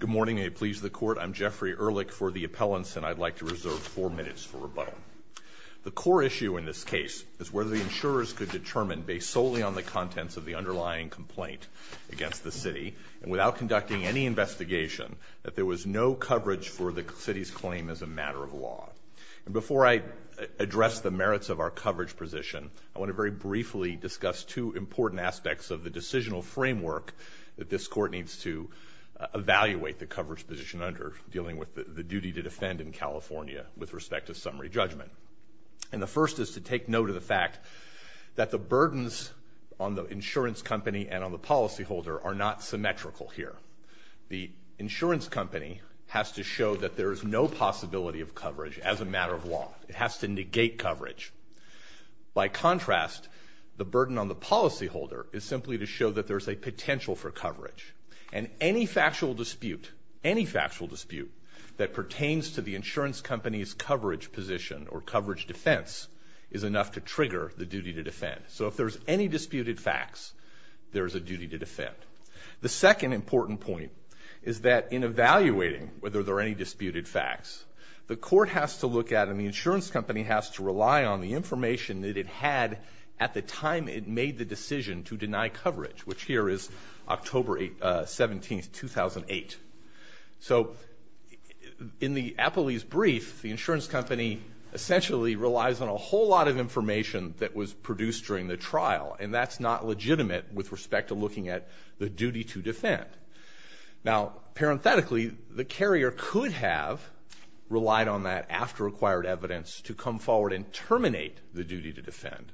Good morning, and it pleases the Court. I'm Jeffrey Ehrlich for the Appellants, and I'd like to reserve four minutes for rebuttal. The core issue in this case is whether the insurers could determine, based solely on the contents of the underlying complaint against the City, and without conducting any investigation, that there was no coverage for the City's claim as a matter of law. And before I address the merits of our coverage position, I want to very briefly discuss two important aspects of the decisional framework that this Court needs to evaluate the coverage position under, dealing with the duty to defend in California with respect to summary judgment. And the first is to take note of the fact that the burdens on the insurance company and on the policyholder are not symmetrical here. The insurance company has to show that there is no possibility of coverage as a matter of law. It has to negate coverage. By contrast, the burden on the policyholder is simply to show that there's a potential for coverage. And any factual dispute, any factual dispute, that pertains to the insurance company's coverage position or coverage defense is enough to trigger the duty to defend. So if there's any disputed facts, there's a duty to defend. The second important point is that in evaluating whether there are any disputed facts, the Court has to look at and the insurance company has to rely on the information that it had at the time it made the decision to deny coverage, which here is October 17th, 2008. So in the Appley's brief, the insurance company essentially relies on a whole lot of information that was produced during the trial, and that's not legitimate with respect to looking at the duty to defend. Now, parenthetically, the carrier could have relied on that after acquired evidence to come forward and terminate the duty to defend.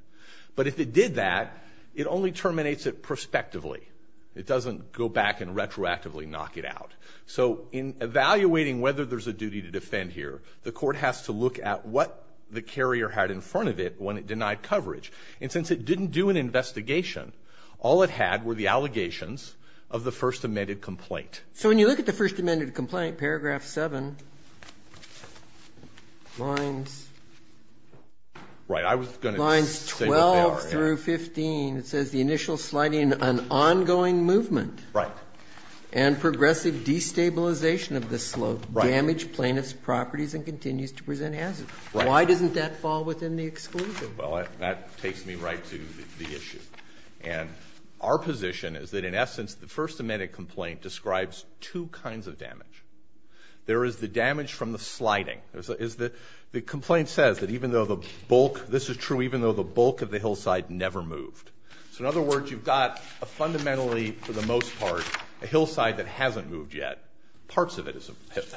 But if it did that, it only terminates it prospectively. It doesn't go back and retroactively knock it out. So in evaluating whether there's a duty to defend here, the Court has to look at what the carrier had in front of it when it denied coverage. And since it didn't do an investigation, all it had were the allegations of the First Amendment complaint. So when you look at the First Amendment complaint, paragraph 7, lines 12 through 15, it says the initial sliding, an ongoing movement and progressive destabilization of the slope damage plaintiff's properties and continues to present hazards. Why doesn't that fall within the exclusion? Well, that takes me right to the issue. And our position is that, in essence, the First Amendment complaint describes two kinds of damage. There is the damage from the sliding. The complaint says that even though the bulk of the hillside never moved. So in other words, you've got a fundamentally, for the most part, a hillside that hasn't moved yet. Parts of it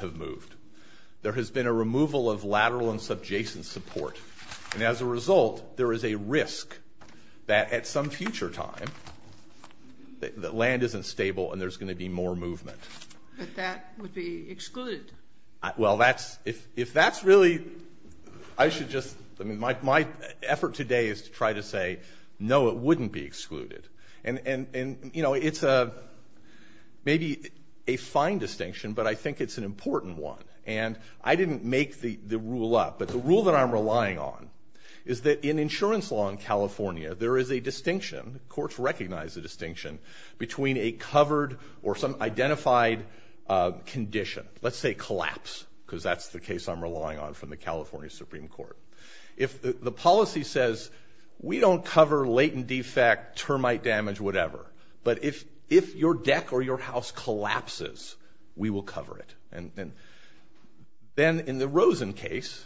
have moved. There has been a removal of lateral and subjacent support. And as a result, there is a risk that at some future time the land isn't stable and there's going to be more movement. But that would be excluded. Well, that's – if that's really – I should just – I mean, my effort today is to try to say, no, it wouldn't be excluded. And, you know, it's maybe a fine distinction, but I think it's an important one. And I didn't make the rule up, but the rule that I'm relying on is that in insurance law in California, there is a distinction. Courts recognize a distinction between a covered or some identified condition. Let's say collapse, because that's the case I'm relying on from the California Supreme Court. If the policy says we don't cover latent defect, termite damage, whatever, but if your deck or your house collapses, we will cover it. And then in the Rosen case,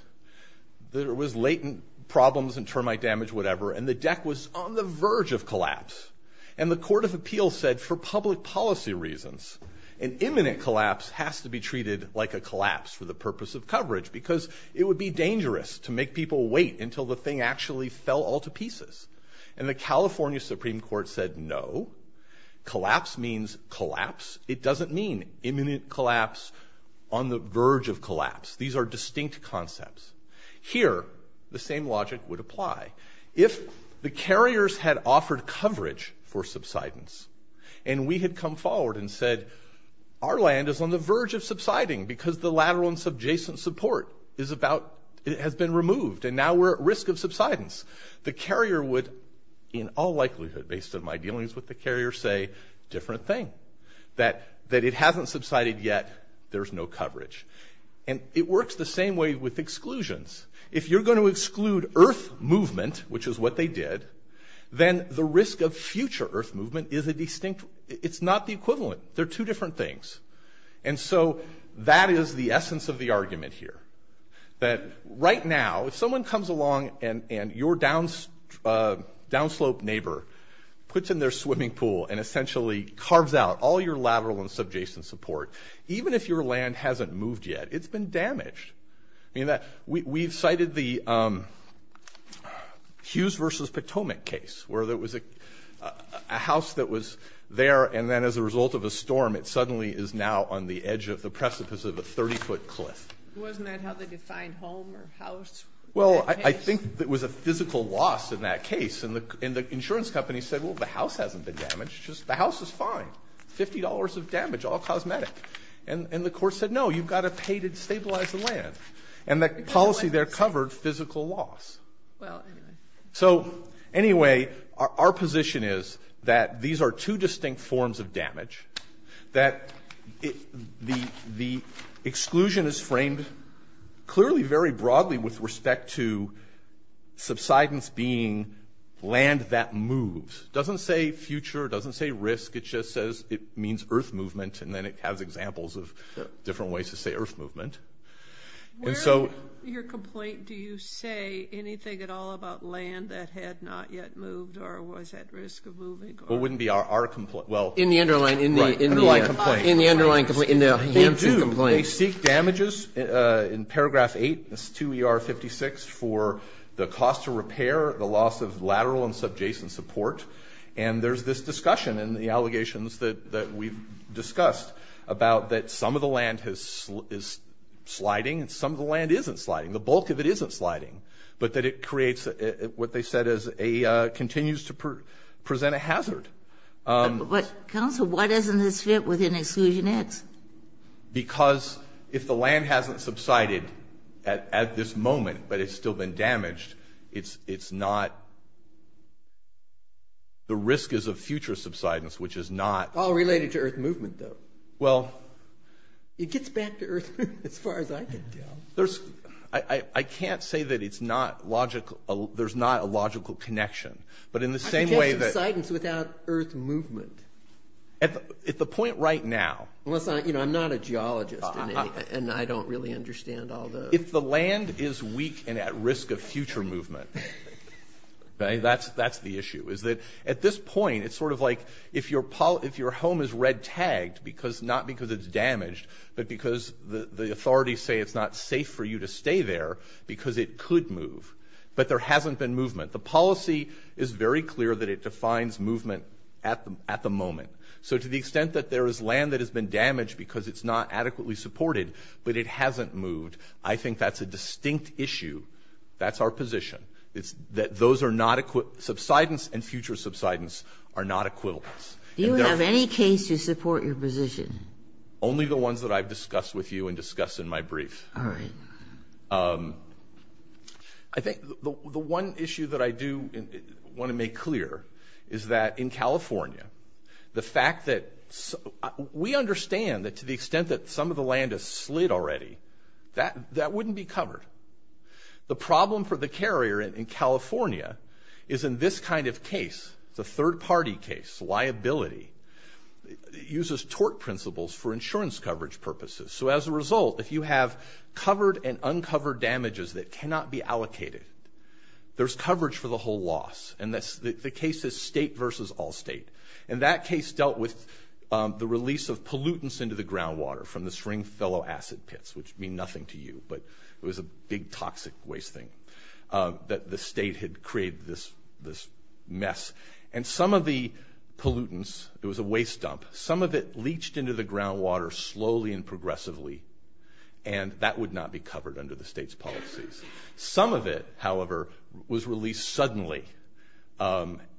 there was latent problems in termite damage, whatever, and the deck was on the verge of collapse. And the court of appeals said, for public policy reasons, an imminent collapse has to be treated like a collapse for the purpose of coverage, because it would be dangerous to make people wait until the thing actually fell all to pieces. And the California Supreme Court said, no, collapse means collapse. It doesn't mean imminent collapse on the verge of collapse. These are distinct concepts. Here, the same logic would apply. If the carriers had offered coverage for subsidence, and we had come forward and said, our land is on the verge of subsiding because the lateral and subjacent support has been removed, and now we're at risk of subsidence, the carrier would, in all likelihood based on my dealings with the carrier, say, different thing. That it hasn't subsided yet, there's no coverage. And it works the same way with exclusions. If you're going to exclude earth movement, which is what they did, then the risk of future earth movement is a distinct, it's not the equivalent. They're two different things. And so that is the essence of the argument here. That right now, if someone comes along and your downslope neighbor puts in their swimming pool and essentially carves out all your lateral and subjacent support, even if your land hasn't moved yet, it's been damaged. I mean, we've cited the Hughes versus Potomac case, where there was a house that was there, and then as a result of a storm it suddenly is now on the edge of the precipice of a 30-foot cliff. Wasn't that how they defined home or house? Well, I think there was a physical loss in that case. And the insurance company said, well, the house hasn't been damaged. The house is fine, $50 of damage, all cosmetic. And the court said, no, you've got to pay to stabilize the land. And the policy there covered physical loss. Well, anyway. So anyway, our position is that these are two distinct forms of damage, that the exclusion is framed clearly very broadly with respect to subsidence being land that moves. It doesn't say future. It doesn't say risk. It just says it means earth movement, and then it has examples of different ways to say earth movement. Where in your complaint do you say anything at all about land that had not yet moved or was at risk of moving? Well, it wouldn't be our complaint. In the underlying complaint. In the underlying complaint. They do. They seek damages in paragraph 8, 2ER56, for the cost of repair, the loss of lateral and subjacent support. And there's this discussion in the allegations that we've discussed about that some of the land is sliding and some of the land isn't sliding. The bulk of it isn't sliding. But that it creates what they said is a continues to present a hazard. But, counsel, why doesn't this fit within Exclusion X? Because if the land hasn't subsided at this moment, but it's still been damaged, it's not the risk is of future subsidence, which is not. All related to earth movement, though. Well. It gets back to earth movement as far as I can tell. I can't say that it's not logical. There's not a logical connection. But in the same way that. I suggest subsidence without earth movement. At the point right now. Unless I'm not a geologist, and I don't really understand all those. If the land is weak and at risk of future movement, that's the issue. At this point, it's sort of like if your home is red tagged, not because it's damaged, but because the authorities say it's not safe for you to stay there because it could move. But there hasn't been movement. The policy is very clear that it defines movement at the moment. So to the extent that there is land that has been damaged because it's not adequately supported, but it hasn't moved, I think that's a distinct issue. That's our position. That those are not. Subsidence and future subsidence are not equivalents. Do you have any case to support your position? Only the ones that I've discussed with you and discussed in my brief. All right. I think the one issue that I do want to make clear is that in California, the fact that. We understand that to the extent that some of the land has slid already, that wouldn't be covered. The problem for the carrier in California is in this kind of case, the third-party case, liability, uses tort principles for insurance coverage purposes. So as a result, if you have covered and uncovered damages that cannot be allocated, there's coverage for the whole loss, and the case is state versus all state. And that case dealt with the release of pollutants into the groundwater from the Springfellow acid pits, which mean nothing to you, but it was a big toxic waste thing that the state had created this mess. And some of the pollutants, it was a waste dump, some of it leached into the groundwater slowly and progressively, and that would not be covered under the state's policies. Some of it, however, was released suddenly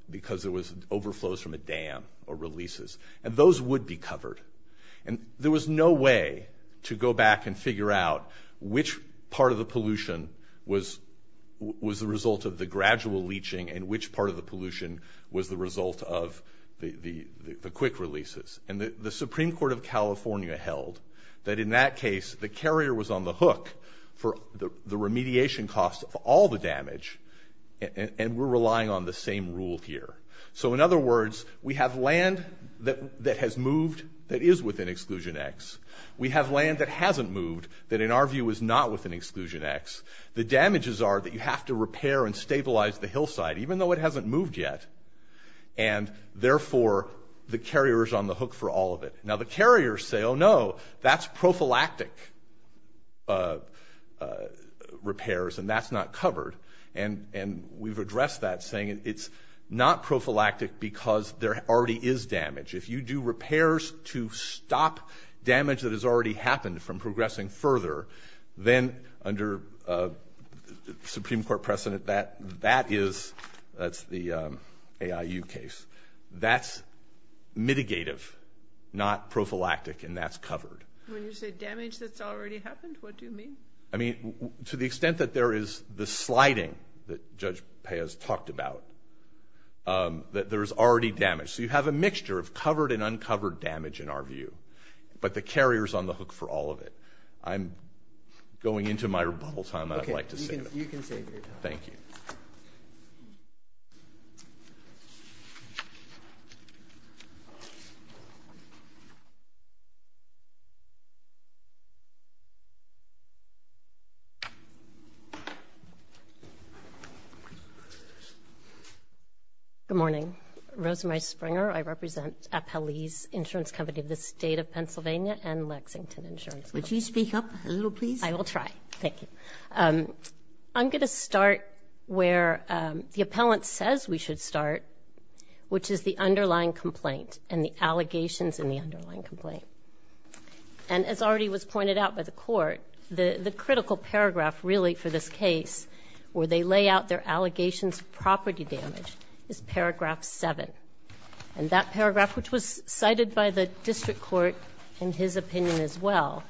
because it was overflows from a dam or releases, and those would be covered. And there was no way to go back and figure out which part of the pollution was the result of the gradual leaching and which part of the pollution was the result of the quick releases. And the Supreme Court of California held that in that case, the carrier was on the hook for the remediation cost of all the damage, and we're relying on the same rule here. So in other words, we have land that has moved that is within Exclusion X. We have land that hasn't moved that, in our view, is not within Exclusion X. The damages are that you have to repair and stabilize the hillside, even though it hasn't moved yet, and therefore the carrier is on the hook for all of it. Now, the carriers say, oh, no, that's prophylactic repairs, and that's not covered. And we've addressed that, saying it's not prophylactic because there already is damage. If you do repairs to stop damage that has already happened from progressing further, then under a Supreme Court precedent, that is, that's the AIU case, that's mitigative, not prophylactic, and that's covered. When you say damage that's already happened, what do you mean? I mean, to the extent that there is the sliding that Judge Peya has talked about, that there is already damage. So you have a mixture of covered and uncovered damage, in our view, but the carrier is on the hook for all of it. I'm going into my rebuttal time. I'd like to save it. Okay, you can save your time. Thank you. Good morning. I'm Rosemary Springer. I represent Appellee's Insurance Company of the State of Pennsylvania and Lexington Insurance Company. Would you speak up a little, please? I will try. Thank you. I'm going to start where the appellant says we should start, which is the underlying complaint and the allegations in the underlying complaint. And as already was pointed out by the Court, the critical paragraph, really, for this where they lay out their allegations of property damage is paragraph 7. And that paragraph, which was cited by the district court in his opinion as well,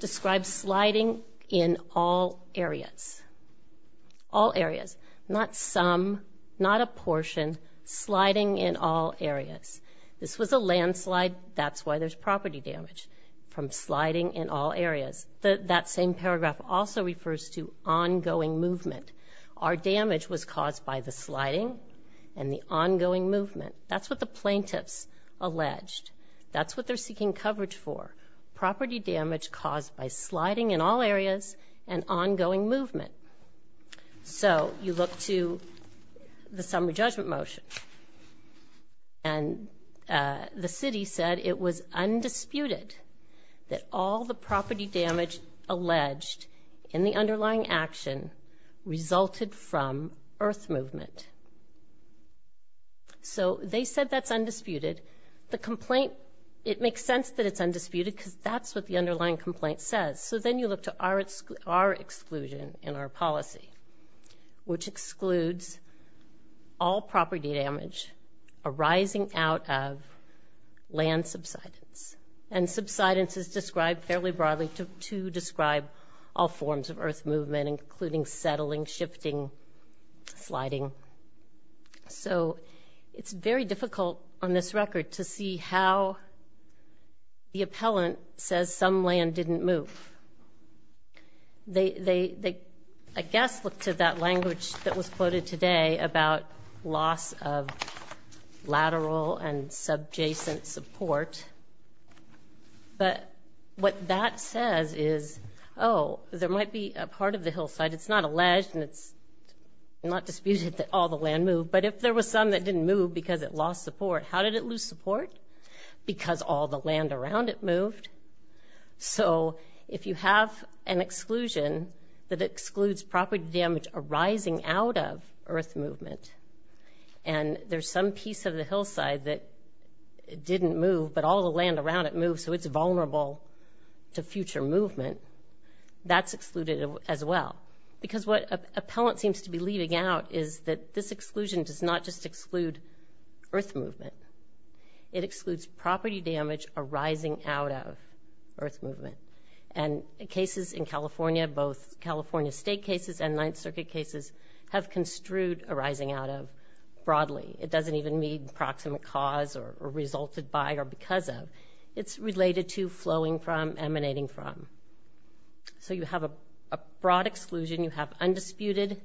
describes sliding in all areas, all areas, not some, not a portion, sliding in all areas. This was a landslide. That's why there's property damage, from sliding in all areas. That same paragraph also refers to ongoing movement. Our damage was caused by the sliding and the ongoing movement. That's what the plaintiffs alleged. That's what they're seeking coverage for, property damage caused by sliding in all areas and ongoing movement. So you look to the summary judgment motion. And the city said it was undisputed that all the property damage alleged in the underlying action resulted from earth movement. So they said that's undisputed. The complaint, it makes sense that it's undisputed because that's what the underlying complaint says. So then you look to our exclusion in our policy, which excludes all property damage arising out of land subsidence. And subsidence is described fairly broadly to describe all forms of earth movement, including settling, shifting, sliding. So it's very difficult on this record to see how the appellant says some land didn't move. They, I guess, look to that language that was quoted today about loss of lateral and subjacent support. But what that says is, oh, there might be a part of the hillside. It's not alleged and it's not disputed that all the land moved. But if there was some that didn't move because it lost support, how did it lose support? Because all the land around it moved. So if you have an exclusion that excludes property damage arising out of earth movement and there's some piece of the hillside that didn't move but all the land around it moved, so it's vulnerable to future movement, that's excluded as well. Because what appellant seems to be leaving out is that this exclusion does not just exclude earth movement. It excludes property damage arising out of earth movement. And cases in California, both California state cases and Ninth Circuit cases, have construed arising out of broadly. It doesn't even mean proximate cause or resulted by or because of. It's related to flowing from, emanating from. So you have a broad exclusion. You have undisputed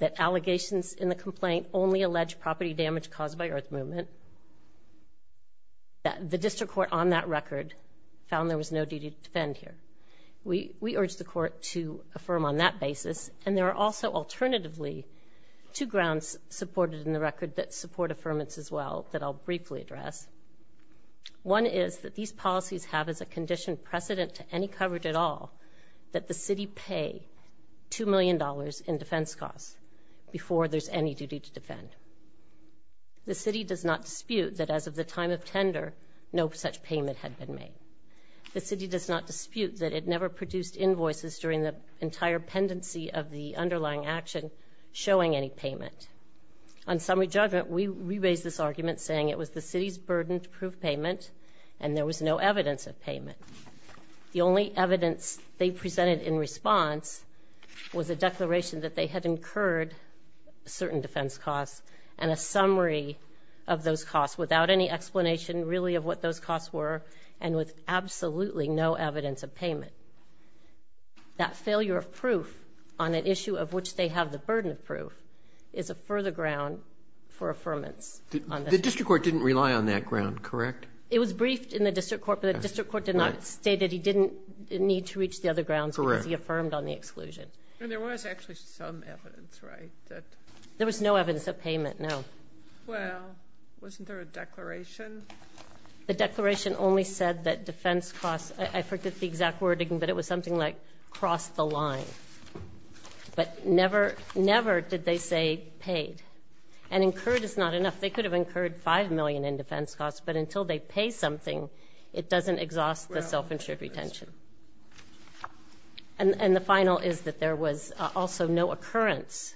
that allegations in the complaint only allege property damage caused by earth movement. The district court on that record found there was no duty to defend here. We urge the court to affirm on that basis. And there are also alternatively two grounds supported in the record that support affirmance as well that I'll briefly address. One is that these policies have as a condition precedent to any coverage at all that the city pay $2 million in defense costs before there's any duty to defend. The city does not dispute that as of the time of tender, no such payment had been made. The city does not dispute that it never produced invoices during the entire pendency of the underlying action showing any payment. On summary judgment, we raised this argument saying it was the city's burden to prove payment and there was no evidence of payment. The only evidence they presented in response was a declaration that they had incurred certain defense costs and a summary of those costs without any explanation really of what those costs were and with absolutely no evidence of payment. That failure of proof on an issue of which they have the burden of proof is a further ground for affirmance. The district court didn't rely on that ground, correct? It was briefed in the district court, but the district court did not state that he didn't need to reach the other grounds because he affirmed on the exclusion. And there was actually some evidence, right? There was no evidence of payment, no. Well, wasn't there a declaration? The declaration only said that defense costs, I forget the exact wording, but it was something like cross the line. But never did they say paid. And incurred is not enough. They could have incurred $5 million in defense costs, but until they pay something, it doesn't exhaust the self-insured retention. And the final is that there was also no occurrence.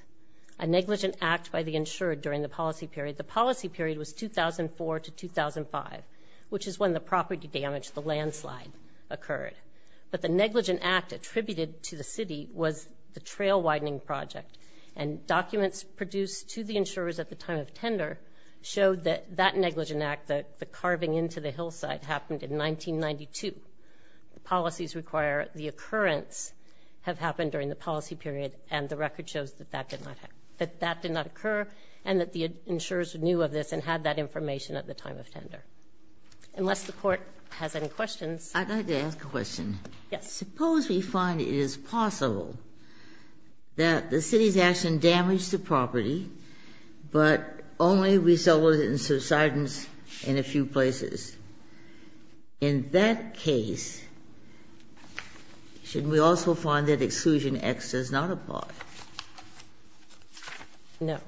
A negligent act by the insured during the policy period. The policy period was 2004 to 2005, which is when the property damage, the landslide, occurred. But the negligent act attributed to the city was the trail widening project. And documents produced to the insurers at the time of tender showed that that negligent act, the carving into the hillside, happened in 1992. The policies require the occurrence have happened during the policy period, and the record shows that that did not occur and that the insurers knew of this and had that information at the time of tender. Unless the Court has any questions. Ginsburg. I'd like to ask a question. Suppose we find it is possible that the city's action damaged the property, but only resulted in subsidence in a few places. In that case, should we also find that Exclusion X does not apply? No.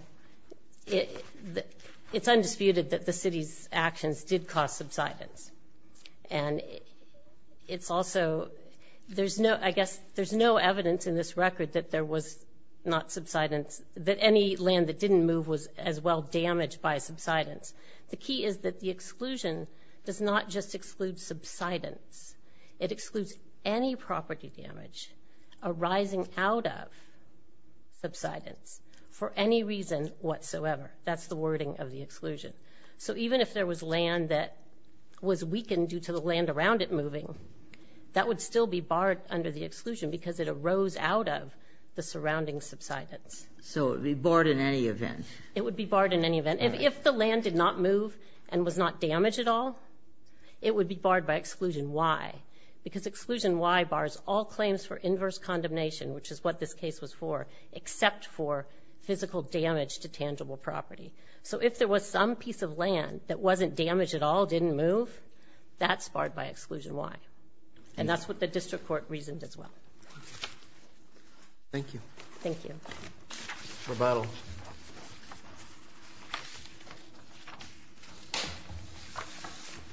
It's undisputed that the city's actions did cause subsidence. And it's also, there's no, I guess, there's no evidence in this record that there was not subsidence, that any land that didn't move was as well damaged by subsidence. The key is that the exclusion does not just exclude subsidence. It excludes any property damage arising out of subsidence for any reason whatsoever. That's the wording of the exclusion. So even if there was land that was weakened due to the land around it moving, that would still be barred under the exclusion because it arose out of the surrounding subsidence. So it would be barred in any event. It would be barred in any event. And if the land did not move and was not damaged at all, it would be barred by Exclusion Y. Because Exclusion Y bars all claims for inverse condemnation, which is what this case was for, except for physical damage to tangible property. So if there was some piece of land that wasn't damaged at all, didn't move, that's barred by Exclusion Y. And that's what the district court reasoned as well. Thank you. Thank you. Rebuttal.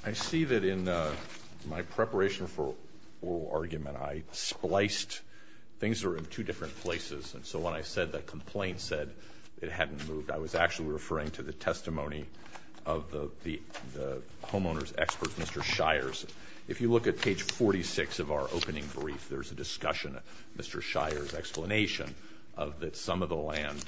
I see that in my preparation for oral argument, I spliced things that were in two different places. And so when I said the complaint said it hadn't moved, I was actually referring to the testimony of the homeowner's expert, Mr. Shires. If you look at page 46 of our opening brief, there's a discussion, Mr. Shires' explanation, of that some of the land,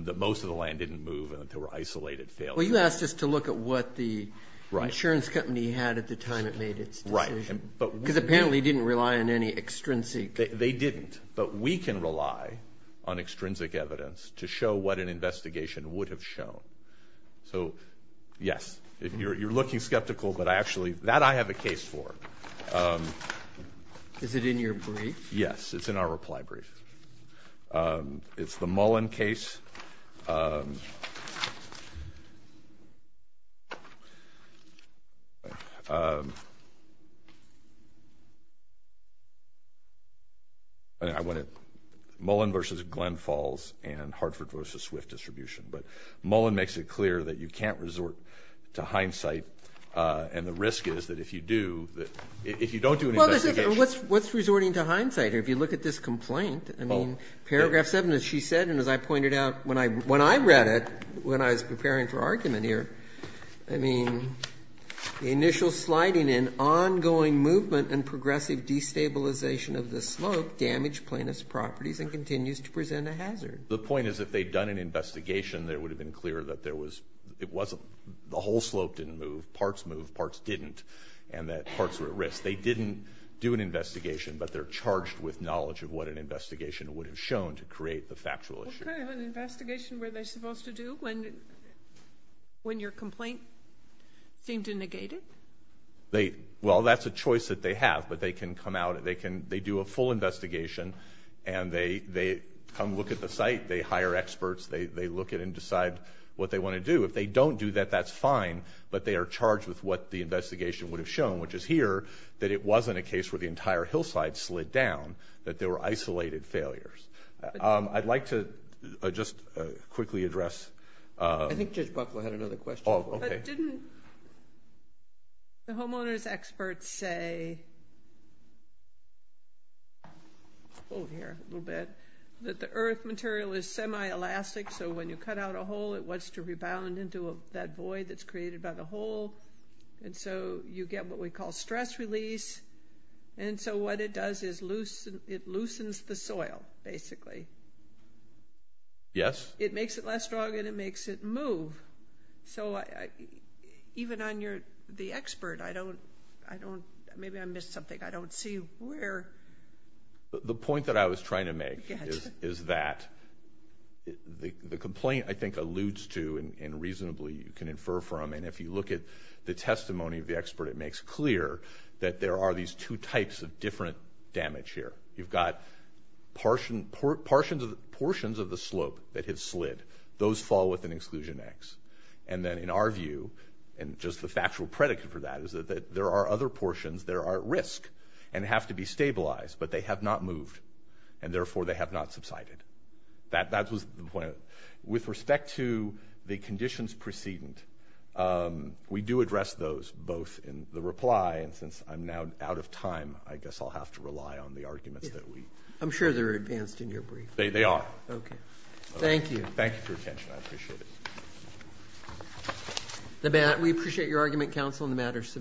that most of the land didn't move and that there were isolated failures. Well, you asked us to look at what the insurance company had at the time it made its decision. Right. Because apparently it didn't rely on any extrinsic. They didn't. But we can rely on extrinsic evidence to show what an investigation would have shown. So, yes, you're looking skeptical, but actually that I have a case for. Is it in your brief? Yes, it's in our reply brief. It's the Mullen case. I went to Mullen v. Glenn Falls and Hartford v. Swift Distribution. But Mullen makes it clear that you can't resort to hindsight, and the risk is that if you do, if you don't do an investigation. Well, what's resorting to hindsight here? If you look at this complaint, I mean, paragraph 7, as she said, and as I pointed out when I read it when I was preparing for argument here, I mean, the initial sliding in ongoing movement and progressive destabilization of the slope damaged plaintiff's properties and continues to present a hazard. The point is if they'd done an investigation, it would have been clear that there was, it wasn't, the whole slope didn't move, parts moved, parts didn't, and that parts were at risk. They didn't do an investigation, but they're charged with knowledge of what an investigation would have shown to create the factual issue. Okay, an investigation where they're supposed to do when your complaint seemed to negate it? Well, that's a choice that they have, but they can come out, they do a full investigation, and they come look at the site, they hire experts, they look at it and decide what they want to do. If they don't do that, that's fine, but they are charged with what the investigation would have shown, which is here that it wasn't a case where the entire hillside slid down, that there were isolated failures. I'd like to just quickly address. I think Judge Buckle had another question. Didn't the homeowner's experts say, over here a little bit, that the earth material is semi-elastic, so when you cut out a hole it wants to rebound into that void that's created by the hole, and so you get what we call stress release, and so what it does is it loosens the soil, basically. Yes. It makes it less strong and it makes it move. So even on the expert, I don't, maybe I missed something, I don't see where. The point that I was trying to make is that the complaint, I think, alludes to and reasonably you can infer from, and if you look at the testimony of the expert, it makes clear that there are these two types of different damage here. You've got portions of the slope that have slid. Those fall within exclusion X. And then in our view, and just the factual predicate for that, is that there are other portions that are at risk and have to be stabilized, but they have not moved, and therefore they have not subsided. That was the point. With respect to the conditions precedent, we do address those both in the reply, and since I'm now out of time, I guess I'll have to rely on the arguments that we. I'm sure they're advanced in your brief. They are. Okay. Thank you. Thank you for your attention. I appreciate it. We appreciate your argument, counsel, on the matter submitted.